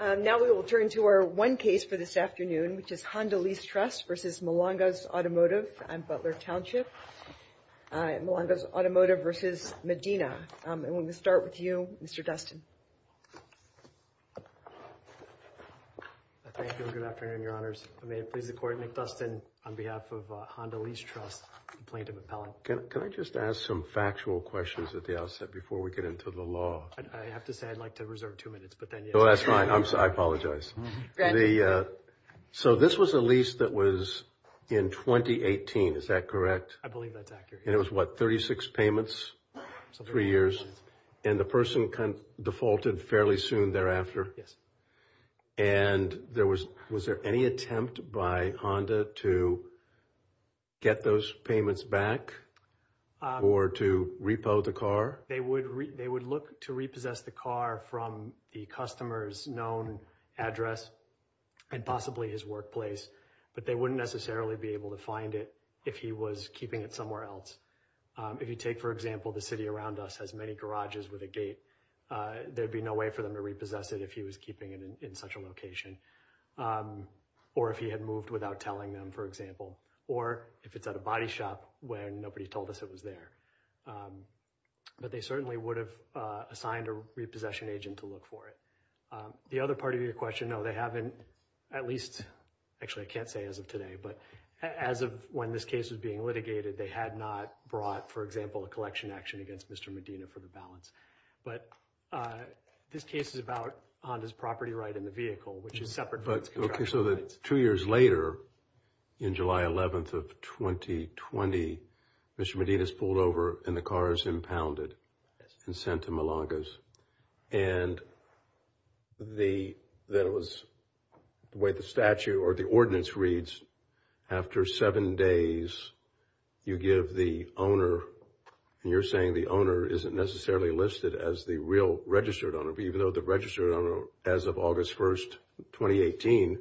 Now we will turn to our one case for this afternoon, which is Honda Lease Trust v. Malangas Automotive and Butler Township. Malangas Automotive v. Medina. I'm going to start with you, Mr. Dustin. Thank you, good afternoon, your honors. May it please the court, Nick Dustin on behalf of Honda Lease Trust, complaint of appellant. Can I just ask some factual questions at the outset before we get into the law? I have to say I'd like to reserve two minutes, but then you know, that's fine. I'm sorry. I apologize the So this was a lease that was in 2018 is that correct? I believe that's accurate. It was what 36 payments three years and the person kind of defaulted fairly soon thereafter. Yes, and there was was there any attempt by Honda to Get those payments back Or to repo the car they would they would look to repossess the car from the customers known address and Possibly his workplace, but they wouldn't necessarily be able to find it if he was keeping it somewhere else If you take for example, the city around us has many garages with a gate There'd be no way for them to repossess it if he was keeping it in such a location Or if he had moved without telling them for example, or if it's at a body shop where nobody told us it was there But they certainly would have assigned a repossession agent to look for it The other part of your question. No, they haven't at least Actually, I can't say as of today, but as of when this case was being litigated They had not brought for example a collection action against. Mr. Medina for the balance, but This case is about Honda's property right in the vehicle, which is separate, but okay, so the two years later in July 11th of 2020 Mr. Medina's pulled over and the car is impounded and sent to Milonga's and The then it was the way the statute or the ordinance reads after seven days You give the owner And you're saying the owner isn't necessarily listed as the real registered owner, but even though the registered owner as of August 1st 2018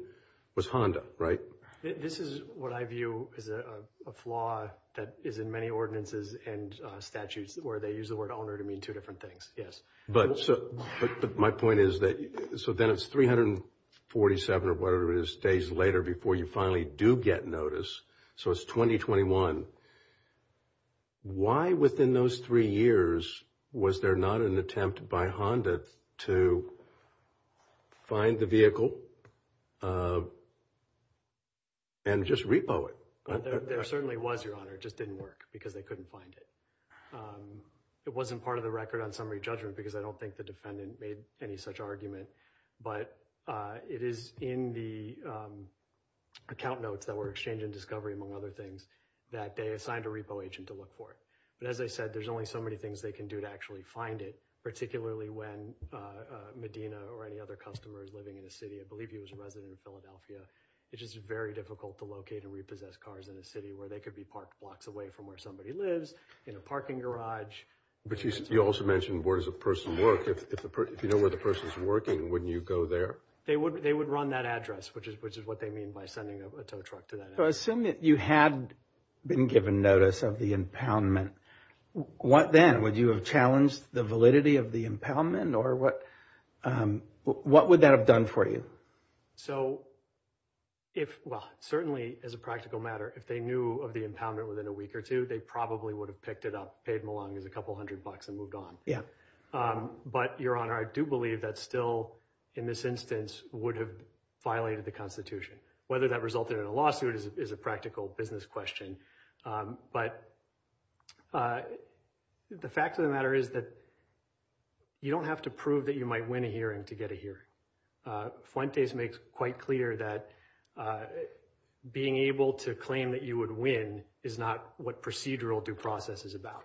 was Honda, right? This is what I view is a flaw that is in many ordinances and Statutes where they use the word owner to mean two different things. Yes, but so but my point is that so then it's 347 or whatever it is days later before you finally do get notice. So it's 2021 Why within those three years was there not an attempt by Honda to Find the vehicle and Just repo it there certainly was your honor just didn't work because they couldn't find it it wasn't part of the record on summary judgment because I don't think the defendant made any such argument, but it is in the Account notes that were exchanged in discovery among other things that they assigned a repo agent to look for it But as I said, there's only so many things they can do to actually find it particularly when Medina or any other customers living in a city. I believe he was a resident of Philadelphia It's just very difficult to locate and repossess cars in a city where they could be parked blocks away from where somebody lives in a parking garage But you also mentioned where does a person work if you know where the person's working wouldn't you go there? They would they would run that address which is which is what they mean by sending a tow truck to that So assume that you had been given notice of the impoundment What then would you have challenged the validity of the impoundment or what? What would that have done for you? So If well certainly as a practical matter if they knew of the impoundment within a week or two They probably would have picked it up paid them along as a couple hundred bucks and moved on. Yeah But your honor I do believe that still in this instance would have Violated the Constitution whether that resulted in a lawsuit is a practical business question but The fact of the matter is that You don't have to prove that you might win a hearing to get a hearing Fuentes makes quite clear that Being able to claim that you would win is not what procedural due process is about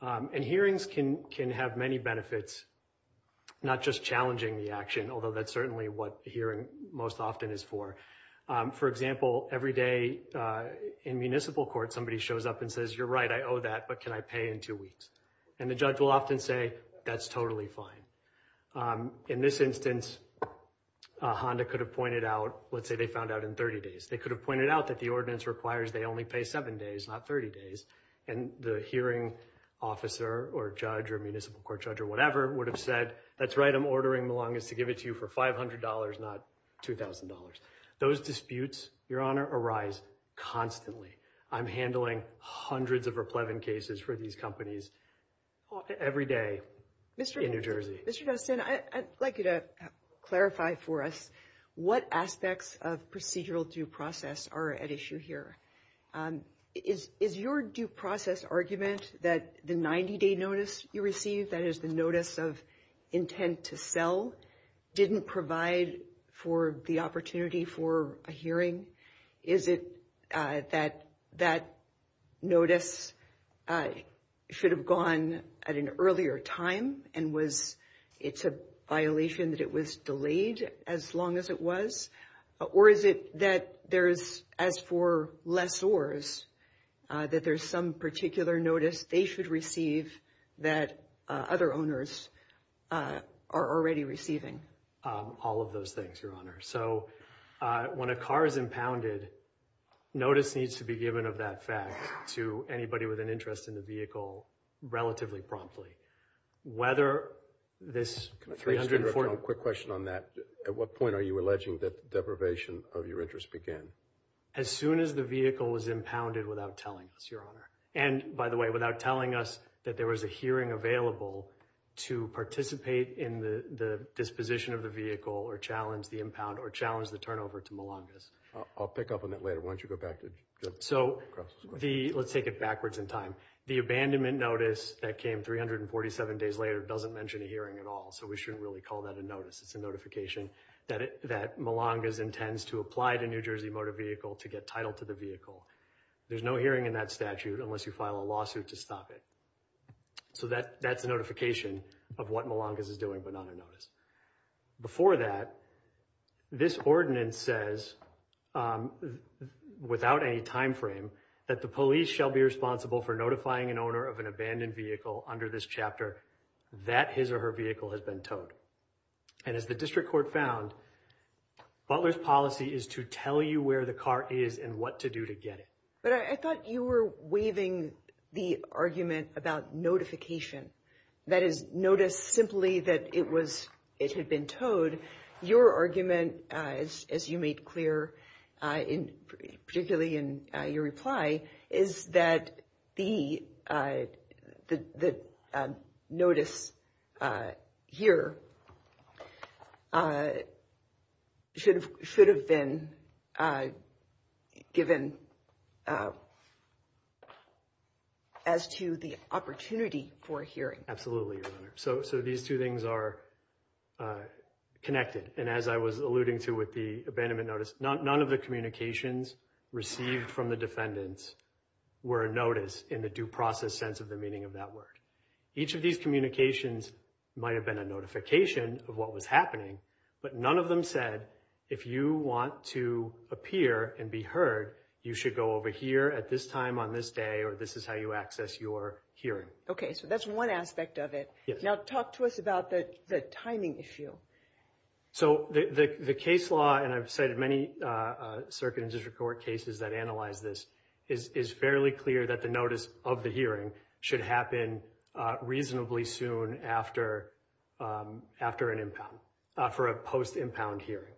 And hearings can can have many benefits Not just challenging the action. Although that's certainly what hearing most often is for for example every day In municipal court somebody shows up and says you're right I owe that but can I pay in two weeks and the judge will often say that's totally fine in this instance Honda could have pointed out. Let's say they found out in 30 days They could have pointed out that the ordinance requires. They only pay seven days not 30 days and the hearing Officer or judge or municipal court judge or whatever would have said that's right I'm ordering the longest to give it to you for $500 not $2,000 those disputes your honor arise Constantly, I'm handling hundreds of her Plevin cases for these companies Every day, mr. In New Jersey. Mr. Dustin. I'd like you to clarify for us What aspects of procedural due process are at issue here Is is your due process argument that the 90-day notice you receive that is the notice of intent to sell? Didn't provide for the opportunity for a hearing is it that that? notice Should have gone at an earlier time and was it's a violation that it was delayed as long as it Or is it that there's as for less oars? That there's some particular notice. They should receive that other owners Are already receiving all of those things your honor. So When a car is impounded Notice needs to be given of that fact to anybody with an interest in the vehicle relatively promptly whether This Quick question on that at what point are you alleging that deprivation of your interest began? As soon as the vehicle was impounded without telling us your honor and by the way without telling us that there was a hearing available to participate in the Disposition of the vehicle or challenge the impound or challenge the turnover to Milongas. I'll pick up on that later Why don't you go back to so the let's take it backwards in time the abandonment notice that came 347 days later doesn't mention a hearing at all. So we shouldn't really call that a notice It's a notification that it that Milongas intends to apply to New Jersey Motor Vehicle to get title to the vehicle There's no hearing in that statute unless you file a lawsuit to stop it So that that's a notification of what Milongas is doing, but not a notice before that this ordinance says Without any time frame that the police shall be responsible for notifying an owner of an abandoned vehicle under this chapter That his or her vehicle has been towed and as the district court found Butler's policy is to tell you where the car is and what to do to get it But I thought you were waving the argument about notification That is notice simply that it was it had been towed Your argument as you made clear in particularly in your reply is that the Notice here Should have should have been Given As to the opportunity for hearing absolutely your honor so so these two things are Connected and as I was alluding to with the abandonment notice not none of the communications received from the defendants Were a notice in the due process sense of the meaning of that word each of these communications might have been a notification of what was happening, but none of them said if you want to Appear and be heard you should go over here at this time on this day, or this is how you access your hearing, okay? So that's one aspect of it now talk to us about that the timing issue So the the case law and I've cited many Circuit and district court cases that analyze this is is fairly clear that the notice of the hearing should happen reasonably soon after After an impound for a post impound hearing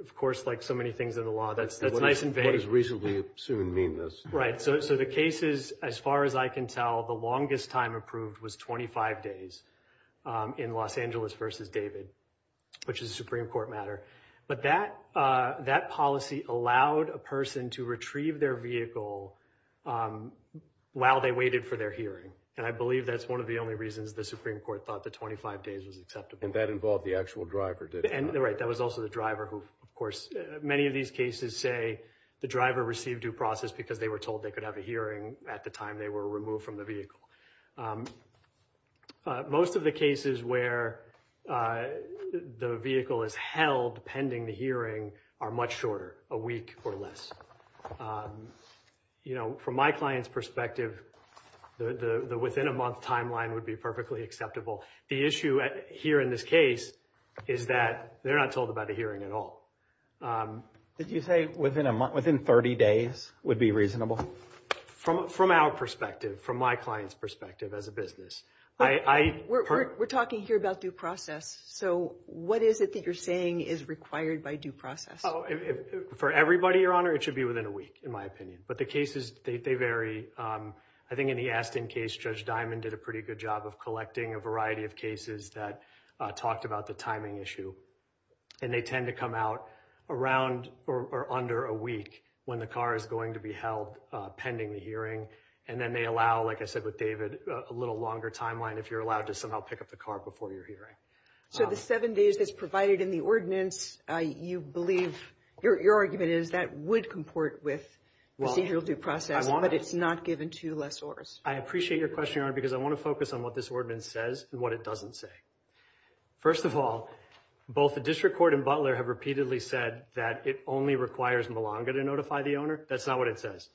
of course like so many things in the law That's that's nice and very recently soon mean this right so the case is as far as I can tell the longest time Approved was 25 days in Los Angeles versus David Which is a Supreme Court matter, but that that policy allowed a person to retrieve their vehicle While they waited for their hearing and I believe that's one of the only reasons the Supreme Court thought the 25 days was acceptable and that Involved the actual driver did and they're right that was also the driver who of course many of these cases say The driver received due process because they were told they could have a hearing at the time they were removed from the vehicle most Of the cases where The vehicle is held pending the hearing are much shorter a week or less You know from my clients perspective The the within a month timeline would be perfectly acceptable the issue at here in this case Is that they're not told about a hearing at all? Did you say within a month within 30 days would be reasonable? From from our perspective from my clients perspective as a business I We're talking here about due process. So what is it that you're saying is required by due process? For everybody your honor. It should be within a week in my opinion, but the cases they vary I think in the Aston case judge diamond did a pretty good job of collecting a variety of cases that Talked about the timing issue and they tend to come out around or under a week when the car is going to be held Pending the hearing and then they allow like I said with David a little longer timeline if you're allowed to somehow pick up the car Before you're here. So the seven days that's provided in the ordinance I you believe your argument is that would comport with Well, you'll do process, but it's not given to less ors I appreciate your question on because I want to focus on what this ordinance says and what it doesn't say first of all Both the district court and Butler have repeatedly said that it only requires Malanga to notify the owner. That's not what it says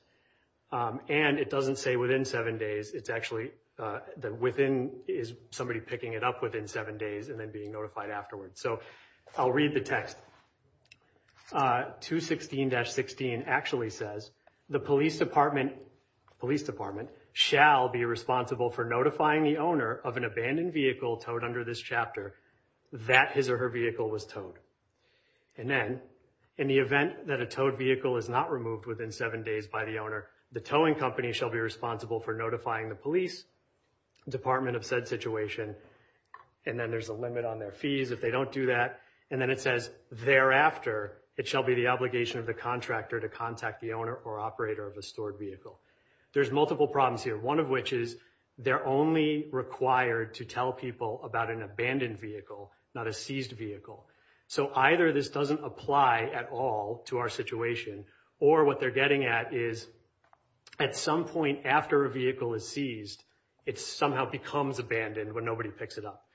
And it doesn't say within seven days It's actually that within is somebody picking it up within seven days and then being notified afterwards. So I'll read the text to 16-16 actually says the police department Police department shall be responsible for notifying the owner of an abandoned vehicle towed under this chapter that his or her vehicle was towed and Then in the event that a towed vehicle is not removed within seven days by the owner the towing company shall be responsible for notifying the police department of said situation and Then there's a limit on their fees if they don't do that And then it says thereafter it shall be the obligation of the contractor to contact the owner or operator of a stored vehicle There's multiple problems here. One of which is they're only Required to tell people about an abandoned vehicle not a seized vehicle so either this doesn't apply at all to our situation or what they're getting at is At some point after a vehicle is seized. It's somehow becomes abandoned when nobody picks it up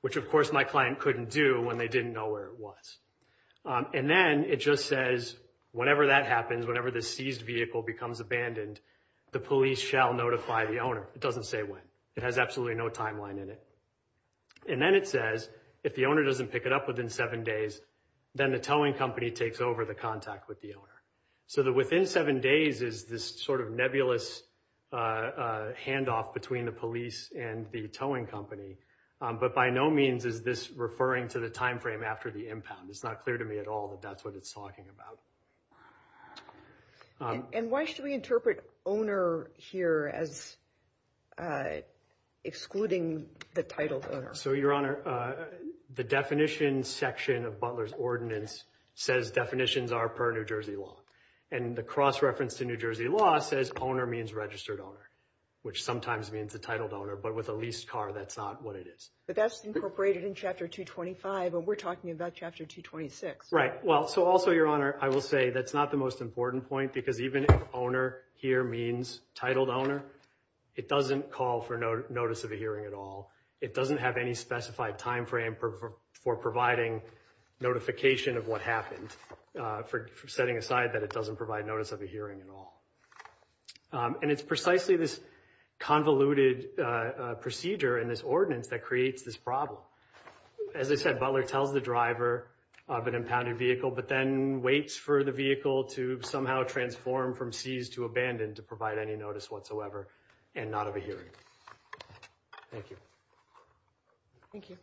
Which of course my client couldn't do when they didn't know where it was And then it just says whatever that happens whenever the seized vehicle becomes abandoned The police shall notify the owner. It doesn't say when it has absolutely no timeline in it And then it says if the owner doesn't pick it up within seven days Then the towing company takes over the contact with the owner so that within seven days is this sort of nebulous Handoff between the police and the towing company But by no means is this referring to the time frame after the impound it's not clear to me at all that that's what it's talking about And why should we interpret owner here as Excluding the title so your honor the definition section of Butler's ordinance says definitions are per New Jersey law and The cross-reference to New Jersey law says owner means registered owner which sometimes means the titled owner But with a leased car, that's not what it is, but that's incorporated in chapter 225 But we're talking about chapter 226 right well, so also your honor I will say that's not the most important point because even if owner here means titled owner It doesn't call for no notice of a hearing at all. It doesn't have any specified time frame for providing Notification of what happened for setting aside that it doesn't provide notice of a hearing at all And it's precisely this convoluted Procedure and this ordinance that creates this problem as I said Butler tells the driver of an impounded vehicle But then waits for the vehicle to somehow transform from seized to abandoned to provide any notice whatsoever and not of a hearing Thank you Thank you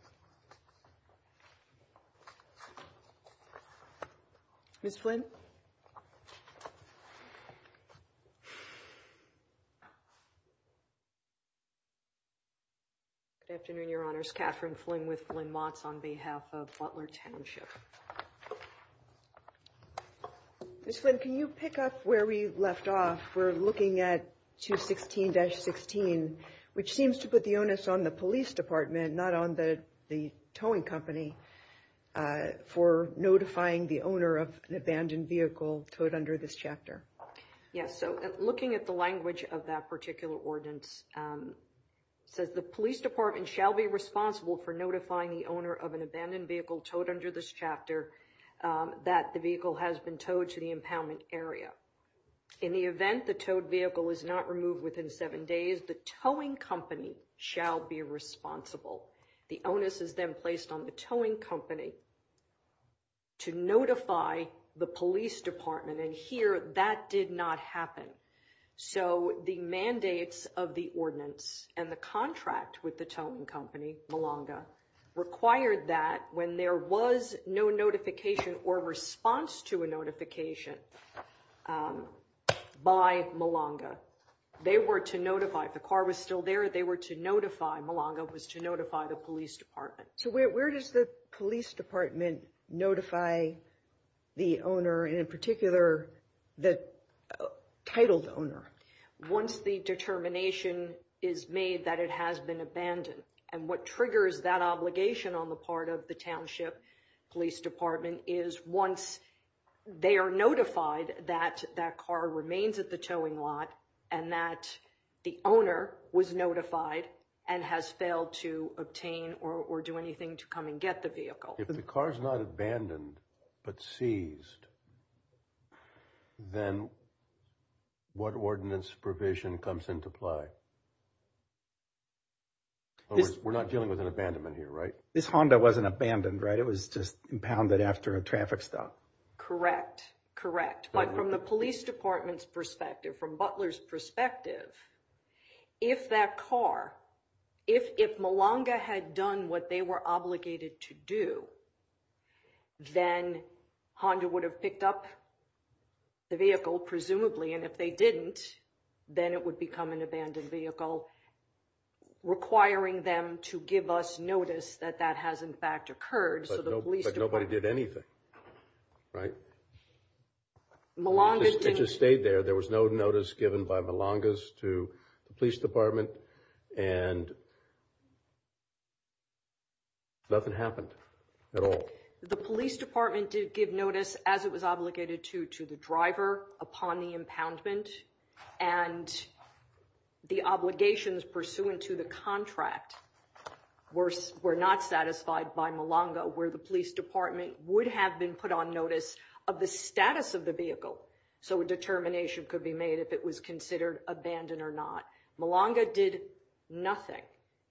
Miss Flynn Afternoon your honors Catherine Flynn with Flynn Mott's on behalf of Butler Township Miss Flynn, can you pick up where we left off? We're looking at 216 dash 16 which seems to put the onus on the police department not on the the towing company For notifying the owner of an abandoned vehicle towed under this chapter Yes, so looking at the language of that particular ordinance Says the police department shall be responsible for notifying the owner of an abandoned vehicle towed under this chapter That the vehicle has been towed to the impoundment area In the event the towed vehicle was not removed within seven days. The towing company shall be Responsible the onus is then placed on the towing company To notify the police department and here that did not happen So the mandates of the ordinance and the contract with the towing company Malanga Required that when there was no notification or response to a notification By Malanga They were to notify if the car was still there. They were to notify Malanga was to notify the police department So where does the police department? notify the owner and in particular the titled owner once the Determination is made that it has been abandoned and what triggers that obligation on the part of the township police department is once they are notified that that car remains at the towing lot and that The owner was notified and has failed to obtain or do anything to come and get the vehicle If the car is not abandoned, but seized Then What ordinance provision comes into play We're not dealing with an abandonment here right this Honda wasn't abandoned right it was just impounded after a traffic stop Correct. Correct, but from the police department's perspective from Butler's perspective if that car if if Malanga had done what they were obligated to do Then Honda would have picked up The vehicle presumably and if they didn't then it would become an abandoned vehicle Requiring them to give us notice that that has in fact occurred. So the police nobody did anything, right? Malanga just stayed there. There was no notice given by Malanga's to the police department and And Nothing happened at all the police department did give notice as it was obligated to to the driver upon the impoundment and The obligations pursuant to the contract worse were not satisfied by Malanga where the police department would have been put on notice of the status of the vehicle so a Determination could be made if it was considered abandoned or not Malanga did Nothing,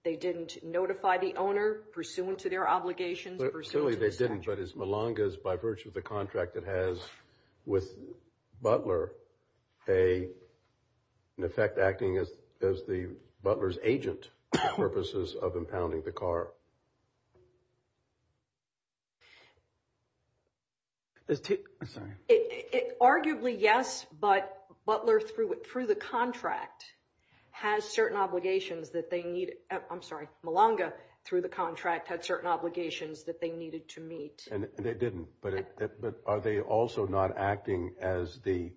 they didn't notify the owner pursuant to their obligations but certainly they didn't but as Malanga's by virtue of the contract that has with Butler a An effect acting as as the Butler's agent purposes of impounding the car There's two Arguably, yes, but Butler through it through the contract Has certain obligations that they need I'm sorry Malanga through the contract had certain obligations that they needed to meet and it didn't but it but are they also not acting as the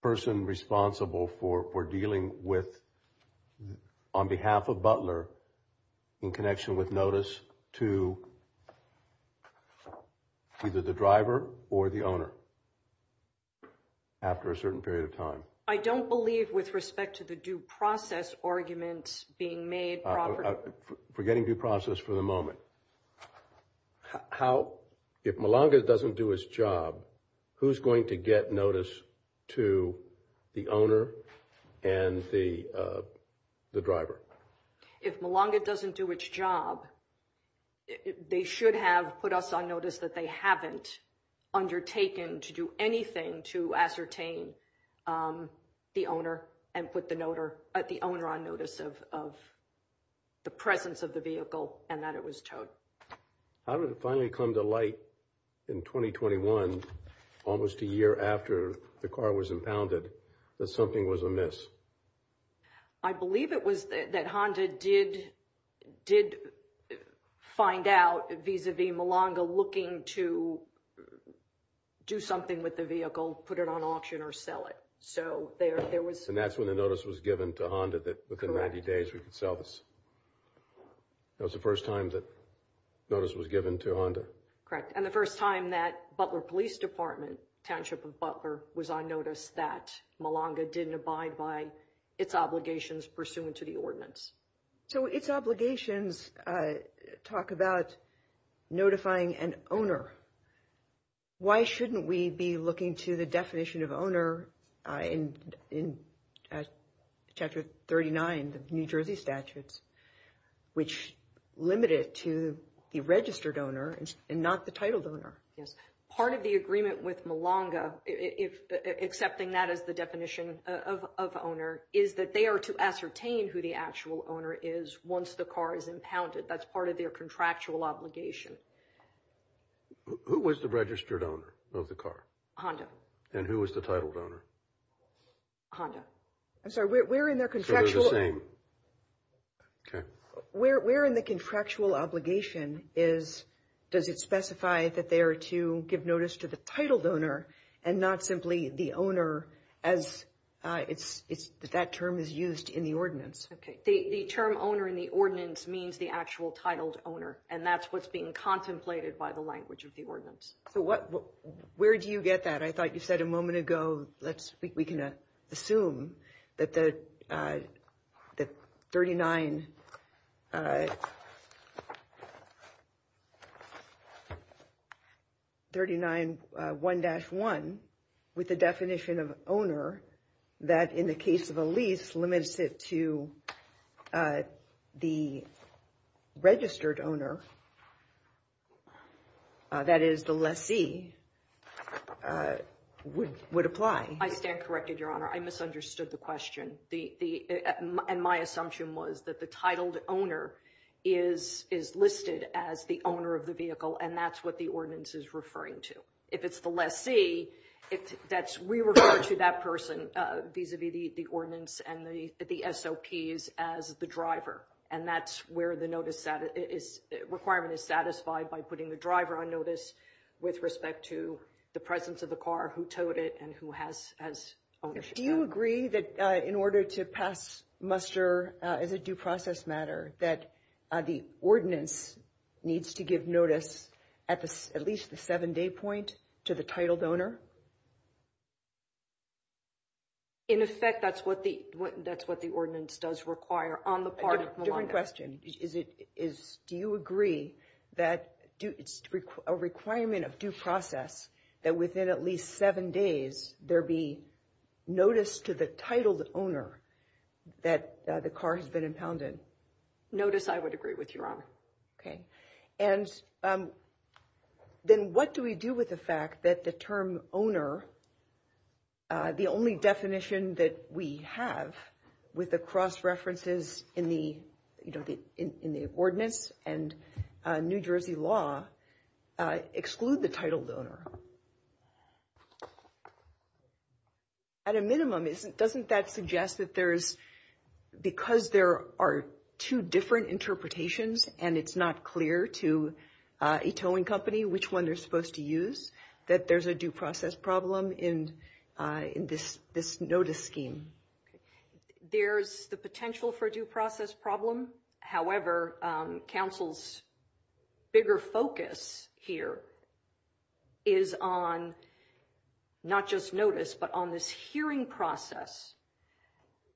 Person responsible for we're dealing with on behalf of Butler in connection with notice to Either the driver or the owner After a certain period of time, I don't believe with respect to the due process arguments being made Forgetting due process for the moment How if Malanga doesn't do his job who's going to get notice to the owner and the the driver if Malanga doesn't do its job They should have put us on notice that they haven't Undertaken to do anything to ascertain the owner and put the noter at the owner on notice of The presence of the vehicle and that it was towed How did it finally come to light in? 2021 almost a year after the car was impounded that something was amiss. I Believe it was that Honda did did Find out vis-a-vis Malanga looking to Do something with the vehicle put it on auction or sell it So there there was and that's when the notice was given to Honda that within 90 days we could sell this That was the first time that Notice was given to Honda correct And the first time that Butler Police Department township of Butler was on notice that Malanga didn't abide by its obligations pursuant to the ordinance So its obligations talk about notifying an owner Why shouldn't we be looking to the definition of owner? in in Chapter 39 the New Jersey statutes which Limited to the registered owner and not the title donor. Yes part of the agreement with Malanga if Accepting that as the definition of Owner is that they are to ascertain who the actual owner is once the car is impounded. That's part of their contractual obligation Who was the registered owner of the car Honda and who was the title donor? Honda, I'm sorry. We're in their contractual name Okay, we're in the contractual obligation is Does it specify that they are to give notice to the title donor and not simply the owner as It's it's that term is used in the ordinance Okay The term owner in the ordinance means the actual titled owner and that's what's being contemplated by the language of the ordinance So what where do you get that? I thought you said a moment ago. Let's we can assume that the that 39 39 1-1 with the definition of owner that in the case of a lease limits it to The registered owner That is the lessee Would would apply I stand corrected your honor. I misunderstood the question the And my assumption was that the titled owner is Is listed as the owner of the vehicle and that's what the ordinance is referring to if it's the lessee if that's we refer to that person vis-a-vis the ordinance and the SOPs as the driver and that's where the notice that is Requirement is satisfied by putting the driver on notice with respect to the presence of the car who towed it and who has as Do you agree that in order to pass? Muster is a due process matter that the ordinance Needs to give notice at this at least the seven-day point to the titled owner In effect, that's what the that's what the ordinance does require on the part of my question is it is do you agree that Do it's a requirement of due process that within at least seven days there be notice to the titled owner That the car has been impounded Notice, I would agree with your honor. Okay, and Then what do we do with the fact that the term owner? The only definition that we have with the cross references in the you know, the in the ordinance and New Jersey law exclude the title donor At A minimum isn't doesn't that suggest that there's Because there are two different interpretations and it's not clear to Ito and company which one they're supposed to use that. There's a due process problem in In this this notice scheme There's the potential for a due process problem. However council's bigger focus here is Is on Not just notice but on this hearing process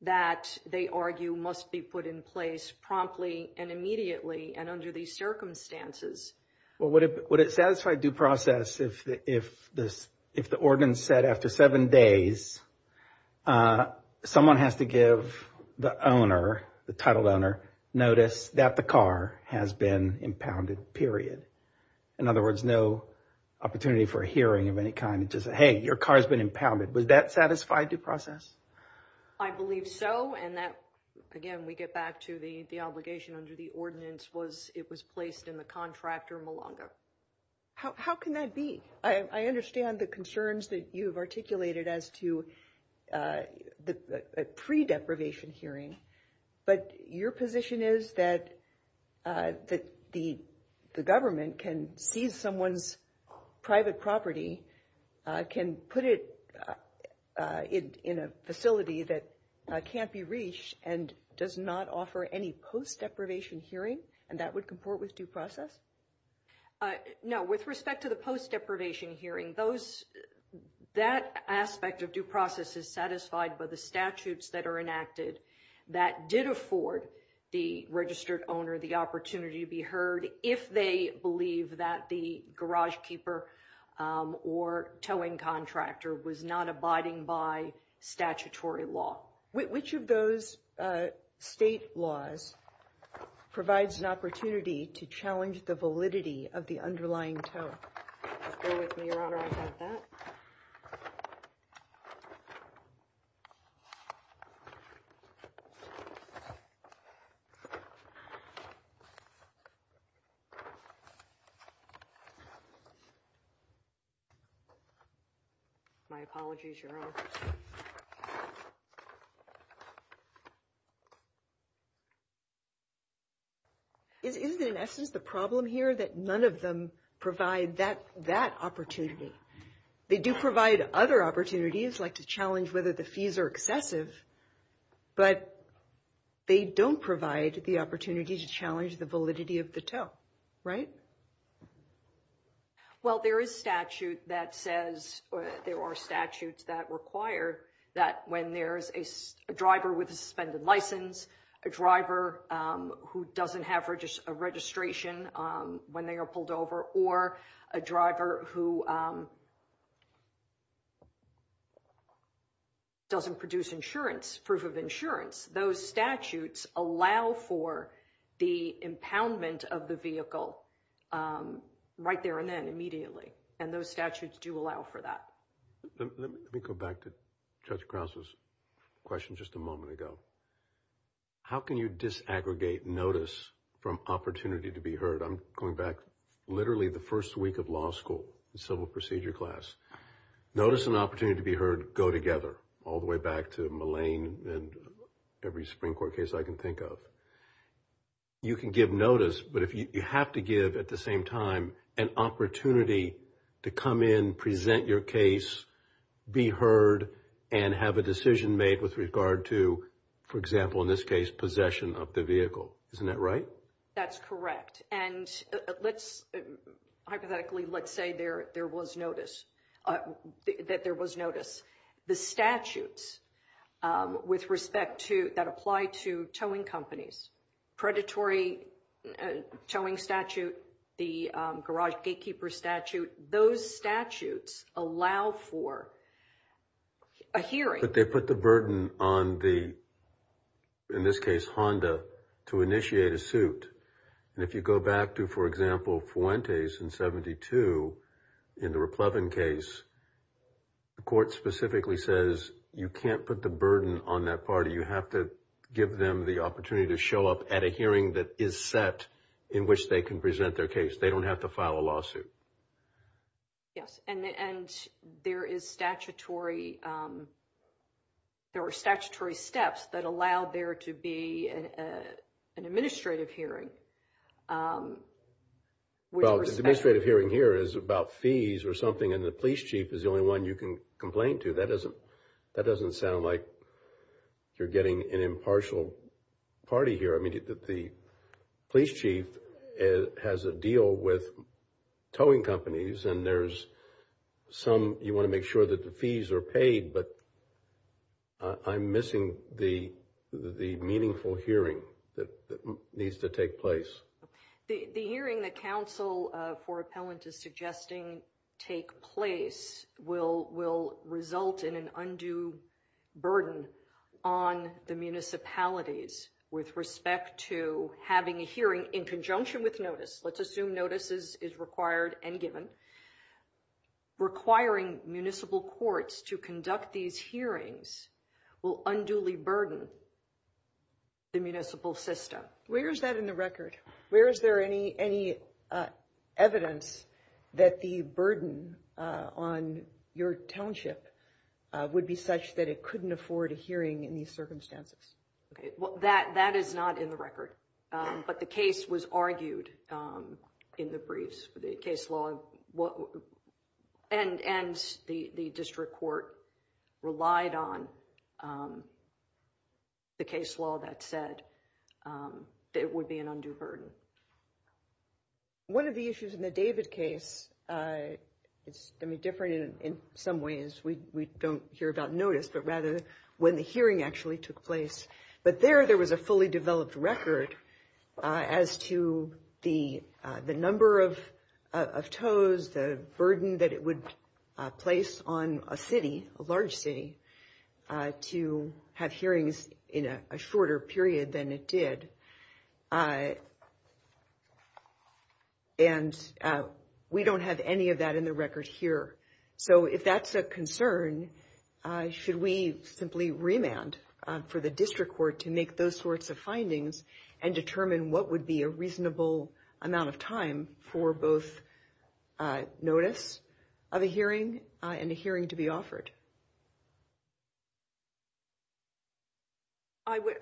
That they argue must be put in place promptly and immediately and under these circumstances Well, what if would it satisfy due process if if this if the ordinance said after seven days? Someone has to give the owner the title donor notice that the car has been impounded period In other words no Opportunity for a hearing of any kind just hey your car has been impounded. Was that satisfied due process? I Believe so and that again we get back to the the obligation under the ordinance was it was placed in the contractor Malanga How can that be? I understand the concerns that you've articulated as to the pre-deprivation hearing but your position is that That the the government can seize someone's private property can put it in in a facility that Can't be reached and does not offer any post deprivation hearing and that would comport with due process No with respect to the post deprivation hearing those That aspect of due process is satisfied by the statutes that are enacted That did afford the registered owner the opportunity to be heard if they believe that the garage keeper or towing contractor was not abiding by statutory law which of those state laws Provides an opportunity to challenge the validity of the underlying tone You My apologies your own Is it in essence the problem here that none of them provide that that opportunity They do provide other opportunities like to challenge whether the fees are excessive But they don't provide the opportunity to challenge the validity of the tow, right Well, there is statute that says There are statutes that require that when there's a driver with a suspended license a driver who doesn't have for just a registration when they are pulled over or a driver who Doesn't Produce insurance proof of insurance those statutes allow for the impoundment of the vehicle Right there and then immediately and those statutes do allow for that Let me go back to judge Krause's Question just a moment ago How can you disaggregate notice from opportunity to be heard? I'm going back literally the first week of law school the civil procedure class Notice an opportunity to be heard go together all the way back to malign and every Supreme Court case I can think of You can give notice but if you have to give at the same time an opportunity to come in present your case Be heard and have a decision made with regard to for example in this case possession of the vehicle. Isn't that right? That's correct. And let's Hypothetically, let's say there there was notice That there was notice the statutes With respect to that apply to towing companies predatory towing statute the garage gatekeeper statute those statutes allow for a hearing but they put the burden on the In this case Honda to initiate a suit and if you go back to for example Fuentes in 72 in the Republican case The court specifically says you can't put the burden on that party You have to give them the opportunity to show up at a hearing that is set in which they can present their case They don't have to file a lawsuit Yes, and there is statutory There were statutory steps that allowed there to be an administrative hearing Well, the administrative hearing here is about fees or something and the police chief is the only one you can complain to that doesn't That doesn't sound like You're getting an impartial Party here. I mean that the police chief has a deal with towing companies and there's Some you want to make sure that the fees are paid, but I'm missing the the meaningful hearing that needs to take place The hearing that counsel for appellant is suggesting take place will will result in an undue burden on The municipalities with respect to having a hearing in conjunction with notice. Let's assume notices is required and given Requiring municipal courts to conduct these hearings will unduly burden The municipal system. Where is that in the record? Where is there any any? Evidence that the burden on your township Would be such that it couldn't afford a hearing in these circumstances Okay, well that that is not in the record, but the case was argued In the briefs for the case law what and and the the district court relied on The case law that said It would be an undue burden One of the issues in the David case It's gonna be different in some ways We don't hear about notice, but rather when the hearing actually took place, but there there was a fully developed record As to the the number of Toes the burden that it would place on a city a large city To have hearings in a shorter period than it did And We don't have any of that in the record here, so if that's a concern Should we simply remand for the district court to make those sorts of findings and determine What would be a reasonable amount of time for both? Notice of a hearing and a hearing to be offered I would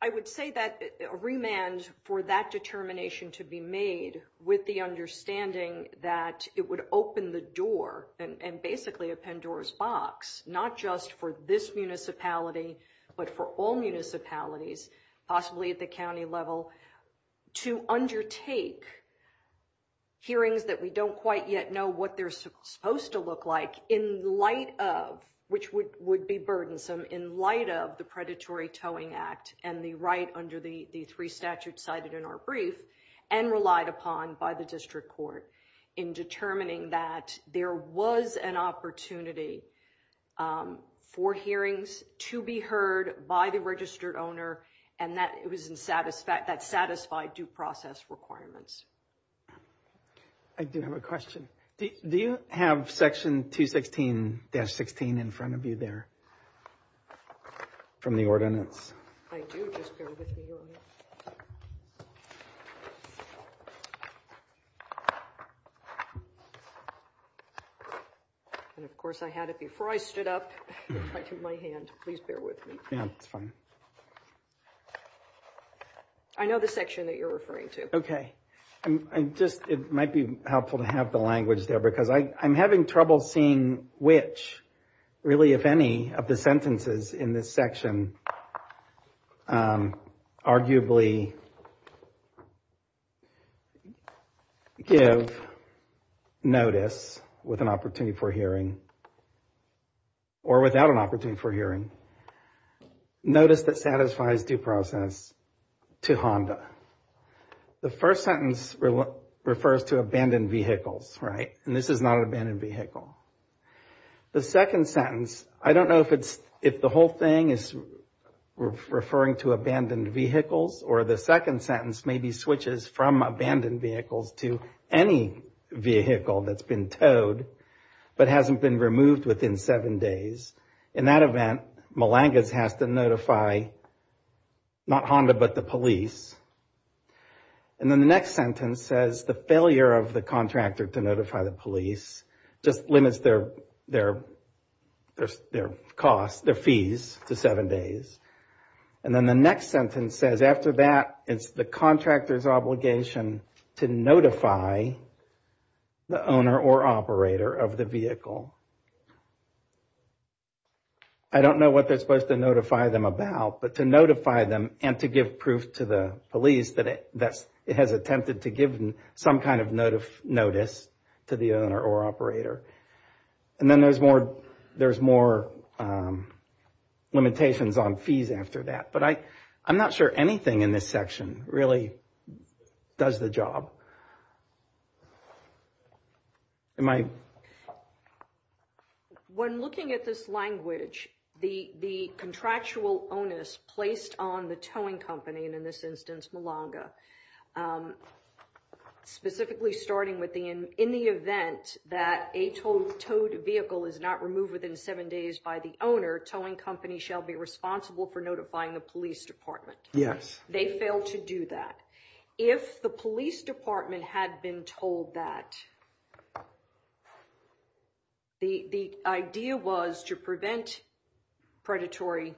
I would say that a remand for that determination to be made with the Understanding that it would open the door and basically a Pandora's box not just for this municipality but for all municipalities possibly at the county level to undertake Hearings that we don't quite yet know what they're supposed to look like in light of Which would would be burdensome in light of the predatory towing act and the right under the the three statutes cited in our brief And relied upon by the district court in determining that there was an opportunity For hearings to be heard by the registered owner and that it was in satisfact that satisfied due process requirements I Do have a question do you have section 216-16 in front of you there? From the ordinance And Of course I had it before I stood up Yeah, that's fine I Know the section that you're referring to okay I'm just it might be helpful to have the language there because I I'm having trouble seeing which Really if any of the sentences in this section Arguably You know Notice with an opportunity for hearing Or without an opportunity for hearing Notice that satisfies due process to Honda The first sentence refers to abandoned vehicles, right? And this is not an abandoned vehicle The second sentence. I don't know if it's if the whole thing is Referring to abandoned vehicles or the second sentence may be switches from abandoned vehicles to any Vehicle that's been towed, but hasn't been removed within seven days in that event Malanga's has to notify not Honda, but the police and then the next sentence says the failure of the contractor to notify the police just limits their their There's their costs their fees to seven days and Then the next sentence says after that it's the contractors obligation to notify the owner or operator of the vehicle I Don't know what they're supposed to notify them about but to notify them and to give proof to the police that it that's it has Attempted to give them some kind of note of notice to the owner or operator And then there's more there's more Limitations on fees after that, but I I'm not sure anything in this section really does the job In my When looking at this language the the contractual onus placed on the towing company and in this instance Malanga Specifically starting with the in in the event that a total towed vehicle is not removed within seven days by the Owner towing company shall be responsible for notifying the police department. Yes, they fail to do that if the police department had been told that The the idea was to prevent predatory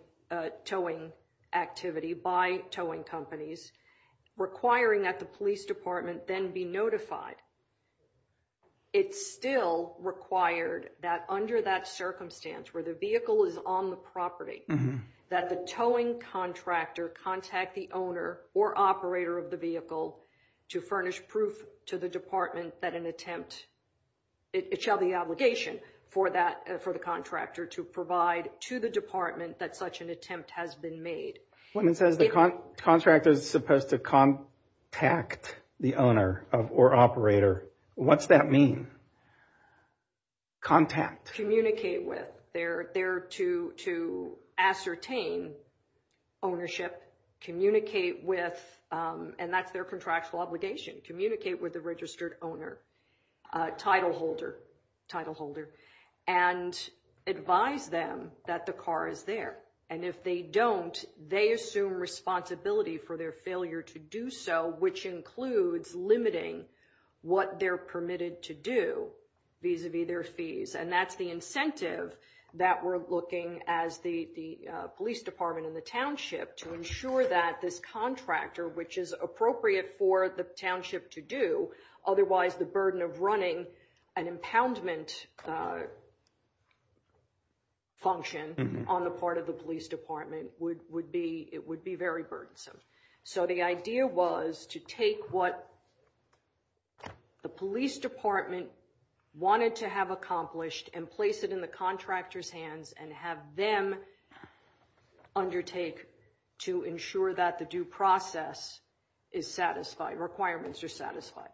towing activity by towing companies Requiring that the police department then be notified It's still required that under that circumstance where the vehicle is on the property That the towing contractor contact the owner or operator of the vehicle To furnish proof to the department that an attempt It shall the obligation for that for the contractor to provide to the department that such an attempt has been made When it says the contract is supposed to contact the owner of or operator, what's that mean? Contact communicate with they're there to to ascertain ownership Communicate with and that's their contractual obligation communicate with the registered owner title holder title holder and Advise them that the car is there and if they don't they assume Responsibility for their failure to do so which includes limiting what they're permitted to do These would be their fees and that's the incentive that we're looking as the the police department in the township To ensure that this contractor which is appropriate for the township to do otherwise the burden of running an impoundment a Function on the part of the police department would would be it would be very burdensome. So the idea was to take what? The police department wanted to have accomplished and place it in the contractors hands and have them Undertake to ensure that the due process is satisfied requirements are satisfied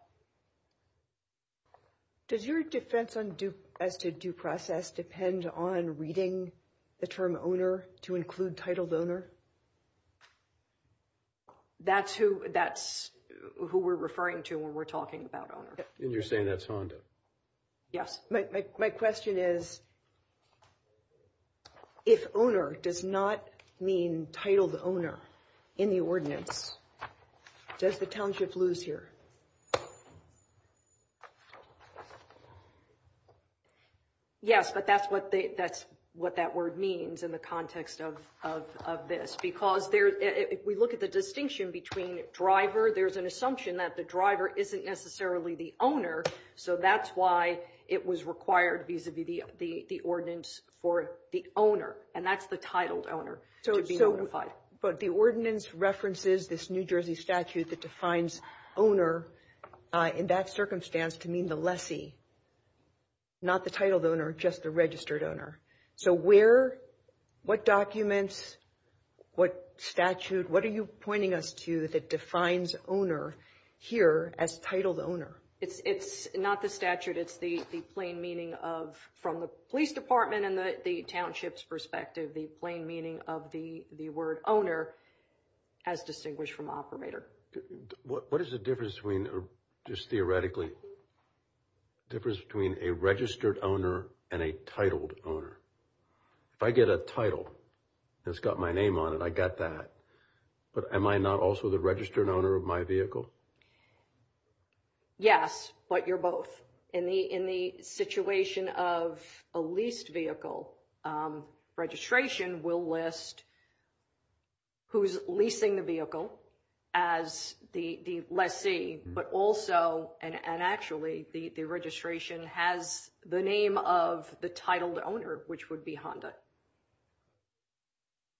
Does your defense on do as to due process depend on reading the term owner to include titled owner That's who that's who we're referring to when we're talking about honor and you're saying that's Honda Yes, my question is If owner does not mean titled owner in the ordinance does the township lose here Yes But that's what they that's what that word means in the context of This because there if we look at the distinction between driver There's an assumption that the driver isn't necessarily the owner So that's why it was required vis-a-vis the the ordinance for the owner and that's the titled owner So it's notified but the ordinance references this, New Jersey statute that defines owner In that circumstance to mean the lessee Not the titled owner just the registered owner. So we're What documents? What statute what are you pointing us to that defines owner? Here as titled owner. It's it's not the statute It's the the plain meaning of from the police department and the townships perspective the plain meaning of the the word owner as distinguished from operator What what is the difference between or just theoretically Difference between a registered owner and a titled owner If I get a title that's got my name on it. I got that But am I not also the registered owner of my vehicle? Yes, but you're both in the in the situation of a leased vehicle registration will list who's leasing the vehicle as The the lessee but also and actually the the registration has the name of the titled owner which would be Honda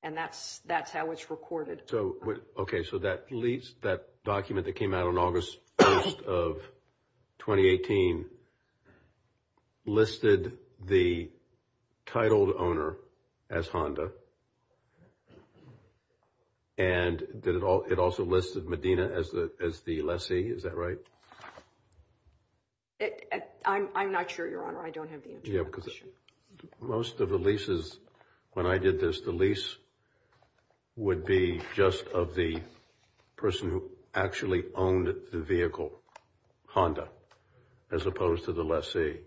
and That's that's how it's recorded. So what okay, so that leads that document that came out on August 1st of 2018 Listed the titled owner as Honda and It all it also listed Medina as the as the lessee. Is that right? I'm not sure your honor. I don't have the answer. Yeah, because most of the leases when I did this the lease would be just of the Person who actually owned the vehicle Honda as opposed to the lessee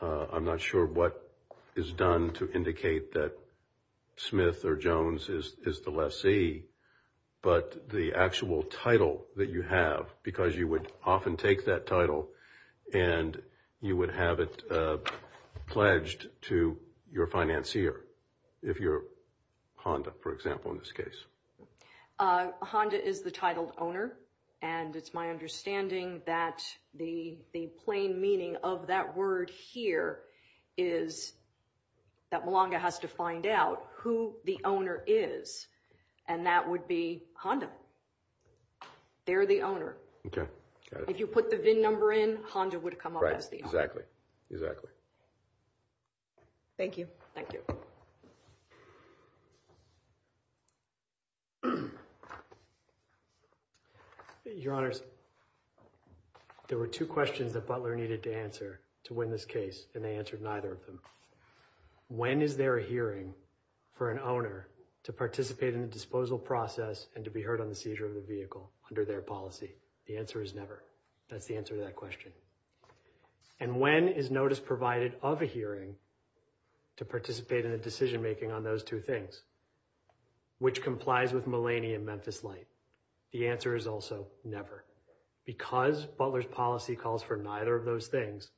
I'm not sure what is done to indicate that Smith or Jones is the lessee but the actual title that you have because you would often take that title and You would have it Pledged to your financier if you're Honda for example in this case Honda is the titled owner and it's my understanding that the the plain meaning of that word here is That Malanga has to find out who the owner is and that would be Honda They're the owner. Okay, if you put the VIN number in Honda would come up as the exactly exactly Thank you, thank you Your honors There were two questions that Butler needed to answer to win this case and they answered neither of them When is there a hearing? For an owner to participate in the disposal process and to be heard on the seizure of the vehicle under their policy the answer is never that's the answer to that question and When is notice provided of a hearing? To participate in the decision-making on those two things Which complies with millennium Memphis light the answer is also never Because Butler's policy calls for neither of those things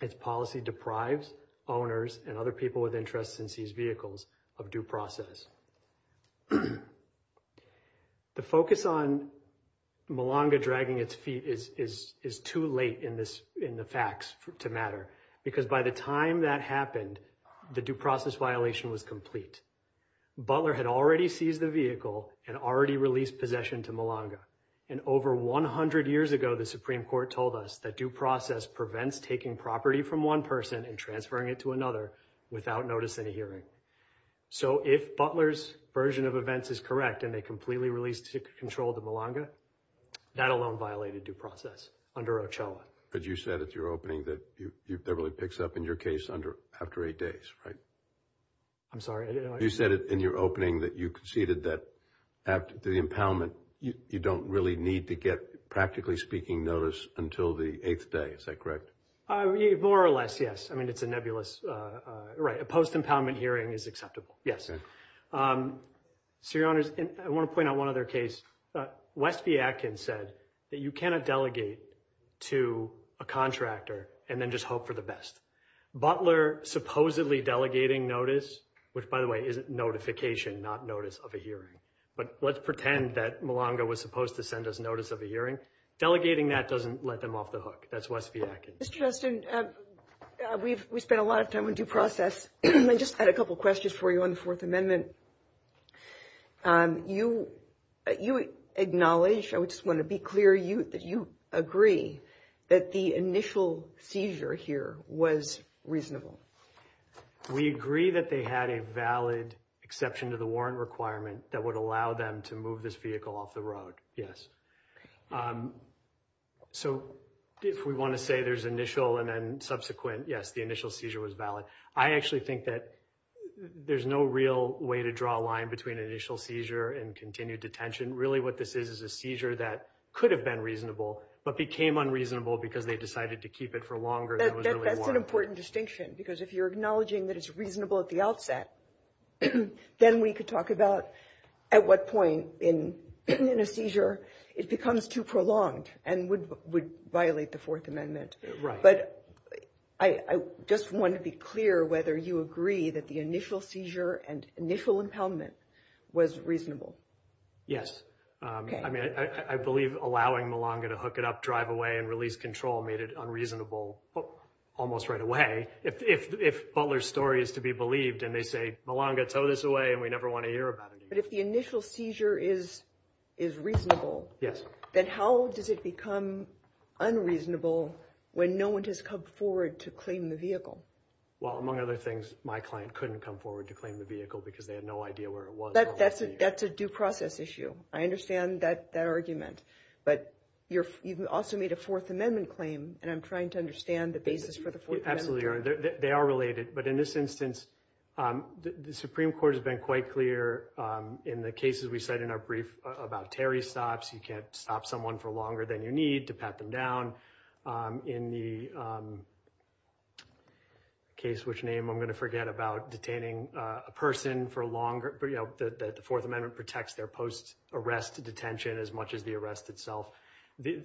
Its policy deprives owners and other people with interests in these vehicles of due process The focus on Malanga dragging its feet is is is too late in this in the facts to matter because by the time that happened The due process violation was complete Butler had already seized the vehicle and already released possession to Malanga and Over 100 years ago The Supreme Court told us that due process prevents taking property from one person and transferring it to another without noticing a hearing So if Butler's version of events is correct, and they completely released to control the Malanga That alone violated due process under Ochoa But you said it's your opening that you've never really picks up in your case under after eight days, right? I'm sorry. You said it in your opening that you conceded that After the impoundment, you don't really need to get practically speaking notice until the eighth day. Is that correct? More or less. Yes. I mean, it's a nebulous Right a post impoundment hearing is acceptable. Yes So your honors and I want to point out one other case Westby Atkins said that you cannot delegate to a contractor and then just hope for the best Butler supposedly delegating notice, which by the way isn't notification not notice of a hearing But let's pretend that Malanga was supposed to send us notice of a hearing Delegating that doesn't let them off the hook. That's Westby Atkins. Mr. Justin We've we spent a lot of time in due process. I just had a couple questions for you on the Fourth Amendment You You acknowledge I would just want to be clear you that you agree that the initial seizure here was reasonable We agree that they had a valid exception to the warrant requirement that would allow them to move this vehicle off the road. Yes So if we want to say there's initial and then subsequent yes, the initial seizure was valid I actually think that There's no real way to draw a line between initial seizure and continued detention Really what this is is a seizure that could have been reasonable But became unreasonable because they decided to keep it for longer That's an important distinction because if you're acknowledging that it's reasonable at the outset Then we could talk about at what point in In a seizure it becomes too prolonged and would would violate the Fourth Amendment, right? but I Just want to be clear whether you agree that the initial seizure and initial impoundment was reasonable Yes, I mean I believe allowing Milonga to hook it up drive away and release control made it unreasonable Almost right away if Butler's story is to be believed and they say Milonga tow this away And we never want to hear about it, but if the initial seizure is is Reasonable. Yes, then. How does it become? Unreasonable when no one has come forward to claim the vehicle Well among other things my client couldn't come forward to claim the vehicle because they had no idea where it was That's it. That's a due process issue I understand that that argument But you're you've also made a Fourth Amendment claim and I'm trying to understand the basis for the foot absolutely They are related but in this instance The Supreme Court has been quite clear In the cases we said in our brief about Terry stops You can't stop someone for longer than you need to pat them down in the Case which name I'm going to forget about detaining a person for a longer But you know that the Fourth Amendment protects their post arrest detention as much as the arrest itself The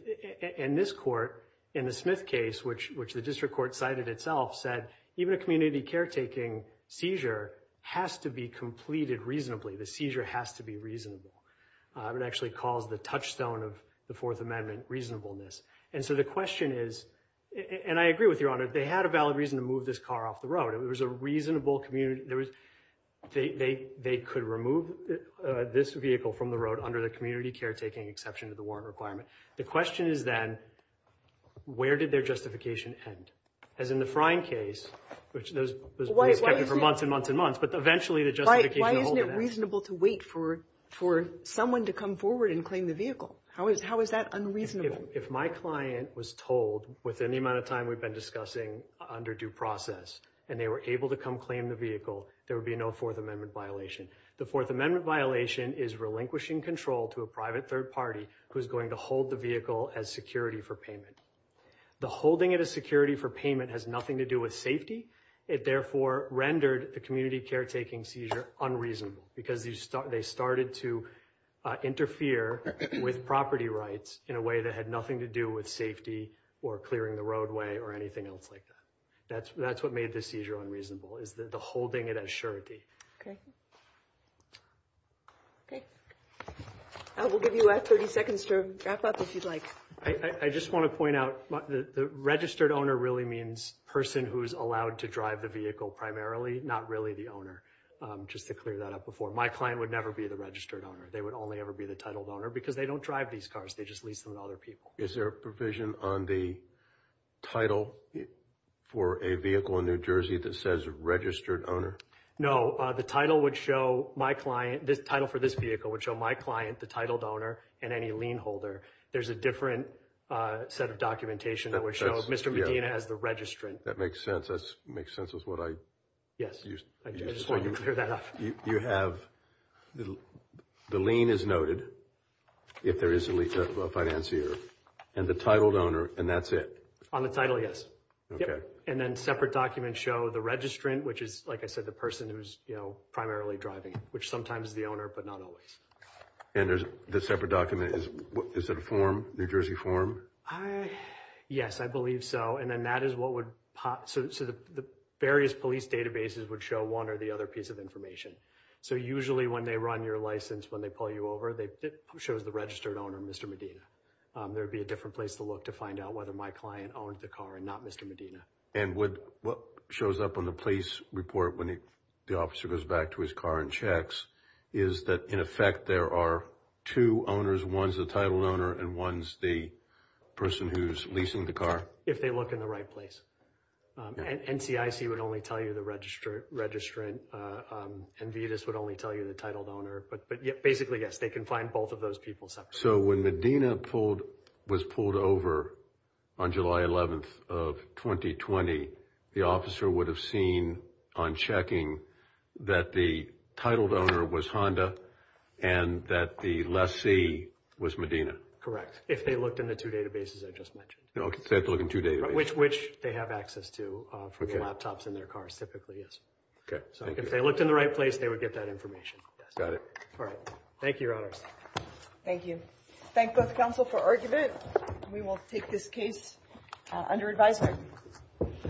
in this court in the Smith case, which which the district court cited itself said even a community caretaking Seizure has to be completed reasonably the seizure has to be reasonable It actually calls the touchstone of the Fourth Amendment reasonableness. And so the question is And I agree with your honor they had a valid reason to move this car off the road It was a reasonable community. There was they they they could remove This vehicle from the road under the community caretaking exception to the warrant requirement. The question is then Where did their justification end as in the frying case, which those for months and months and months, but eventually the just Reasonable to wait for for someone to come forward and claim the vehicle How is how is that unreasonable if my client was told with any amount of time? We've been discussing under due process and they were able to come claim the vehicle There would be no Fourth Amendment violation The Fourth Amendment violation is relinquishing control to a private third party who's going to hold the vehicle as security for payment The holding it a security for payment has nothing to do with safety. It therefore rendered the community caretaking seizure unreasonable because you start they started to Interfere with property rights in a way that had nothing to do with safety or clearing the roadway or anything else like that That's that's what made the seizure unreasonable. Is that the holding it as surety? Okay Okay I will give you a 30 seconds to wrap up if you'd like I just want to point out the registered owner really means person who's allowed to drive the vehicle primarily not really the owner Just to clear that up before my client would never be the registered owner They would only ever be the titled owner because they don't drive these cars. They just lease them to other people. Is there a provision on the title For a vehicle in New Jersey that says registered owner No, the title would show my client this title for this vehicle would show my client the titled owner and any lien holder There's a different Set of documentation that would show mr. Medina as the registrant that makes sense. That's makes sense is what I yes You have The lien is noted If there is a lease of a financier and the titled owner and that's it on the title Yes, okay, and then separate documents show the registrant which is like I said the person who's you know, primarily driving Which sometimes is the owner but not always And there's the separate document is what is that a form New Jersey form? I? Yes, I believe so and then that is what would pop so the various police databases would show one or the other piece of information So usually when they run your license when they pull you over they shows the registered owner. Mr. Medina There would be a different place to look to find out whether my client owned the car and not mr Medina and would what shows up on the police report when he the officer goes back to his car and checks is that in effect there are two owners ones the titled owner and ones the Person who's leasing the car if they look in the right place And CIC would only tell you the register registrant And Vetus would only tell you the titled owner, but but yeah, basically, yes, they can find both of those people so when Medina pulled was pulled over on July 11th of 2020 the officer would have seen on checking that the titled owner was Honda and That the lessee was Medina correct if they looked in the two databases I just mentioned know if they have to look in two day which which they have access to for laptops in their cars typically is Okay, so if they looked in the right place, they would get that information. Got it. All right. Thank you Thank you. Thank both the council for argument. We will take this case under advisement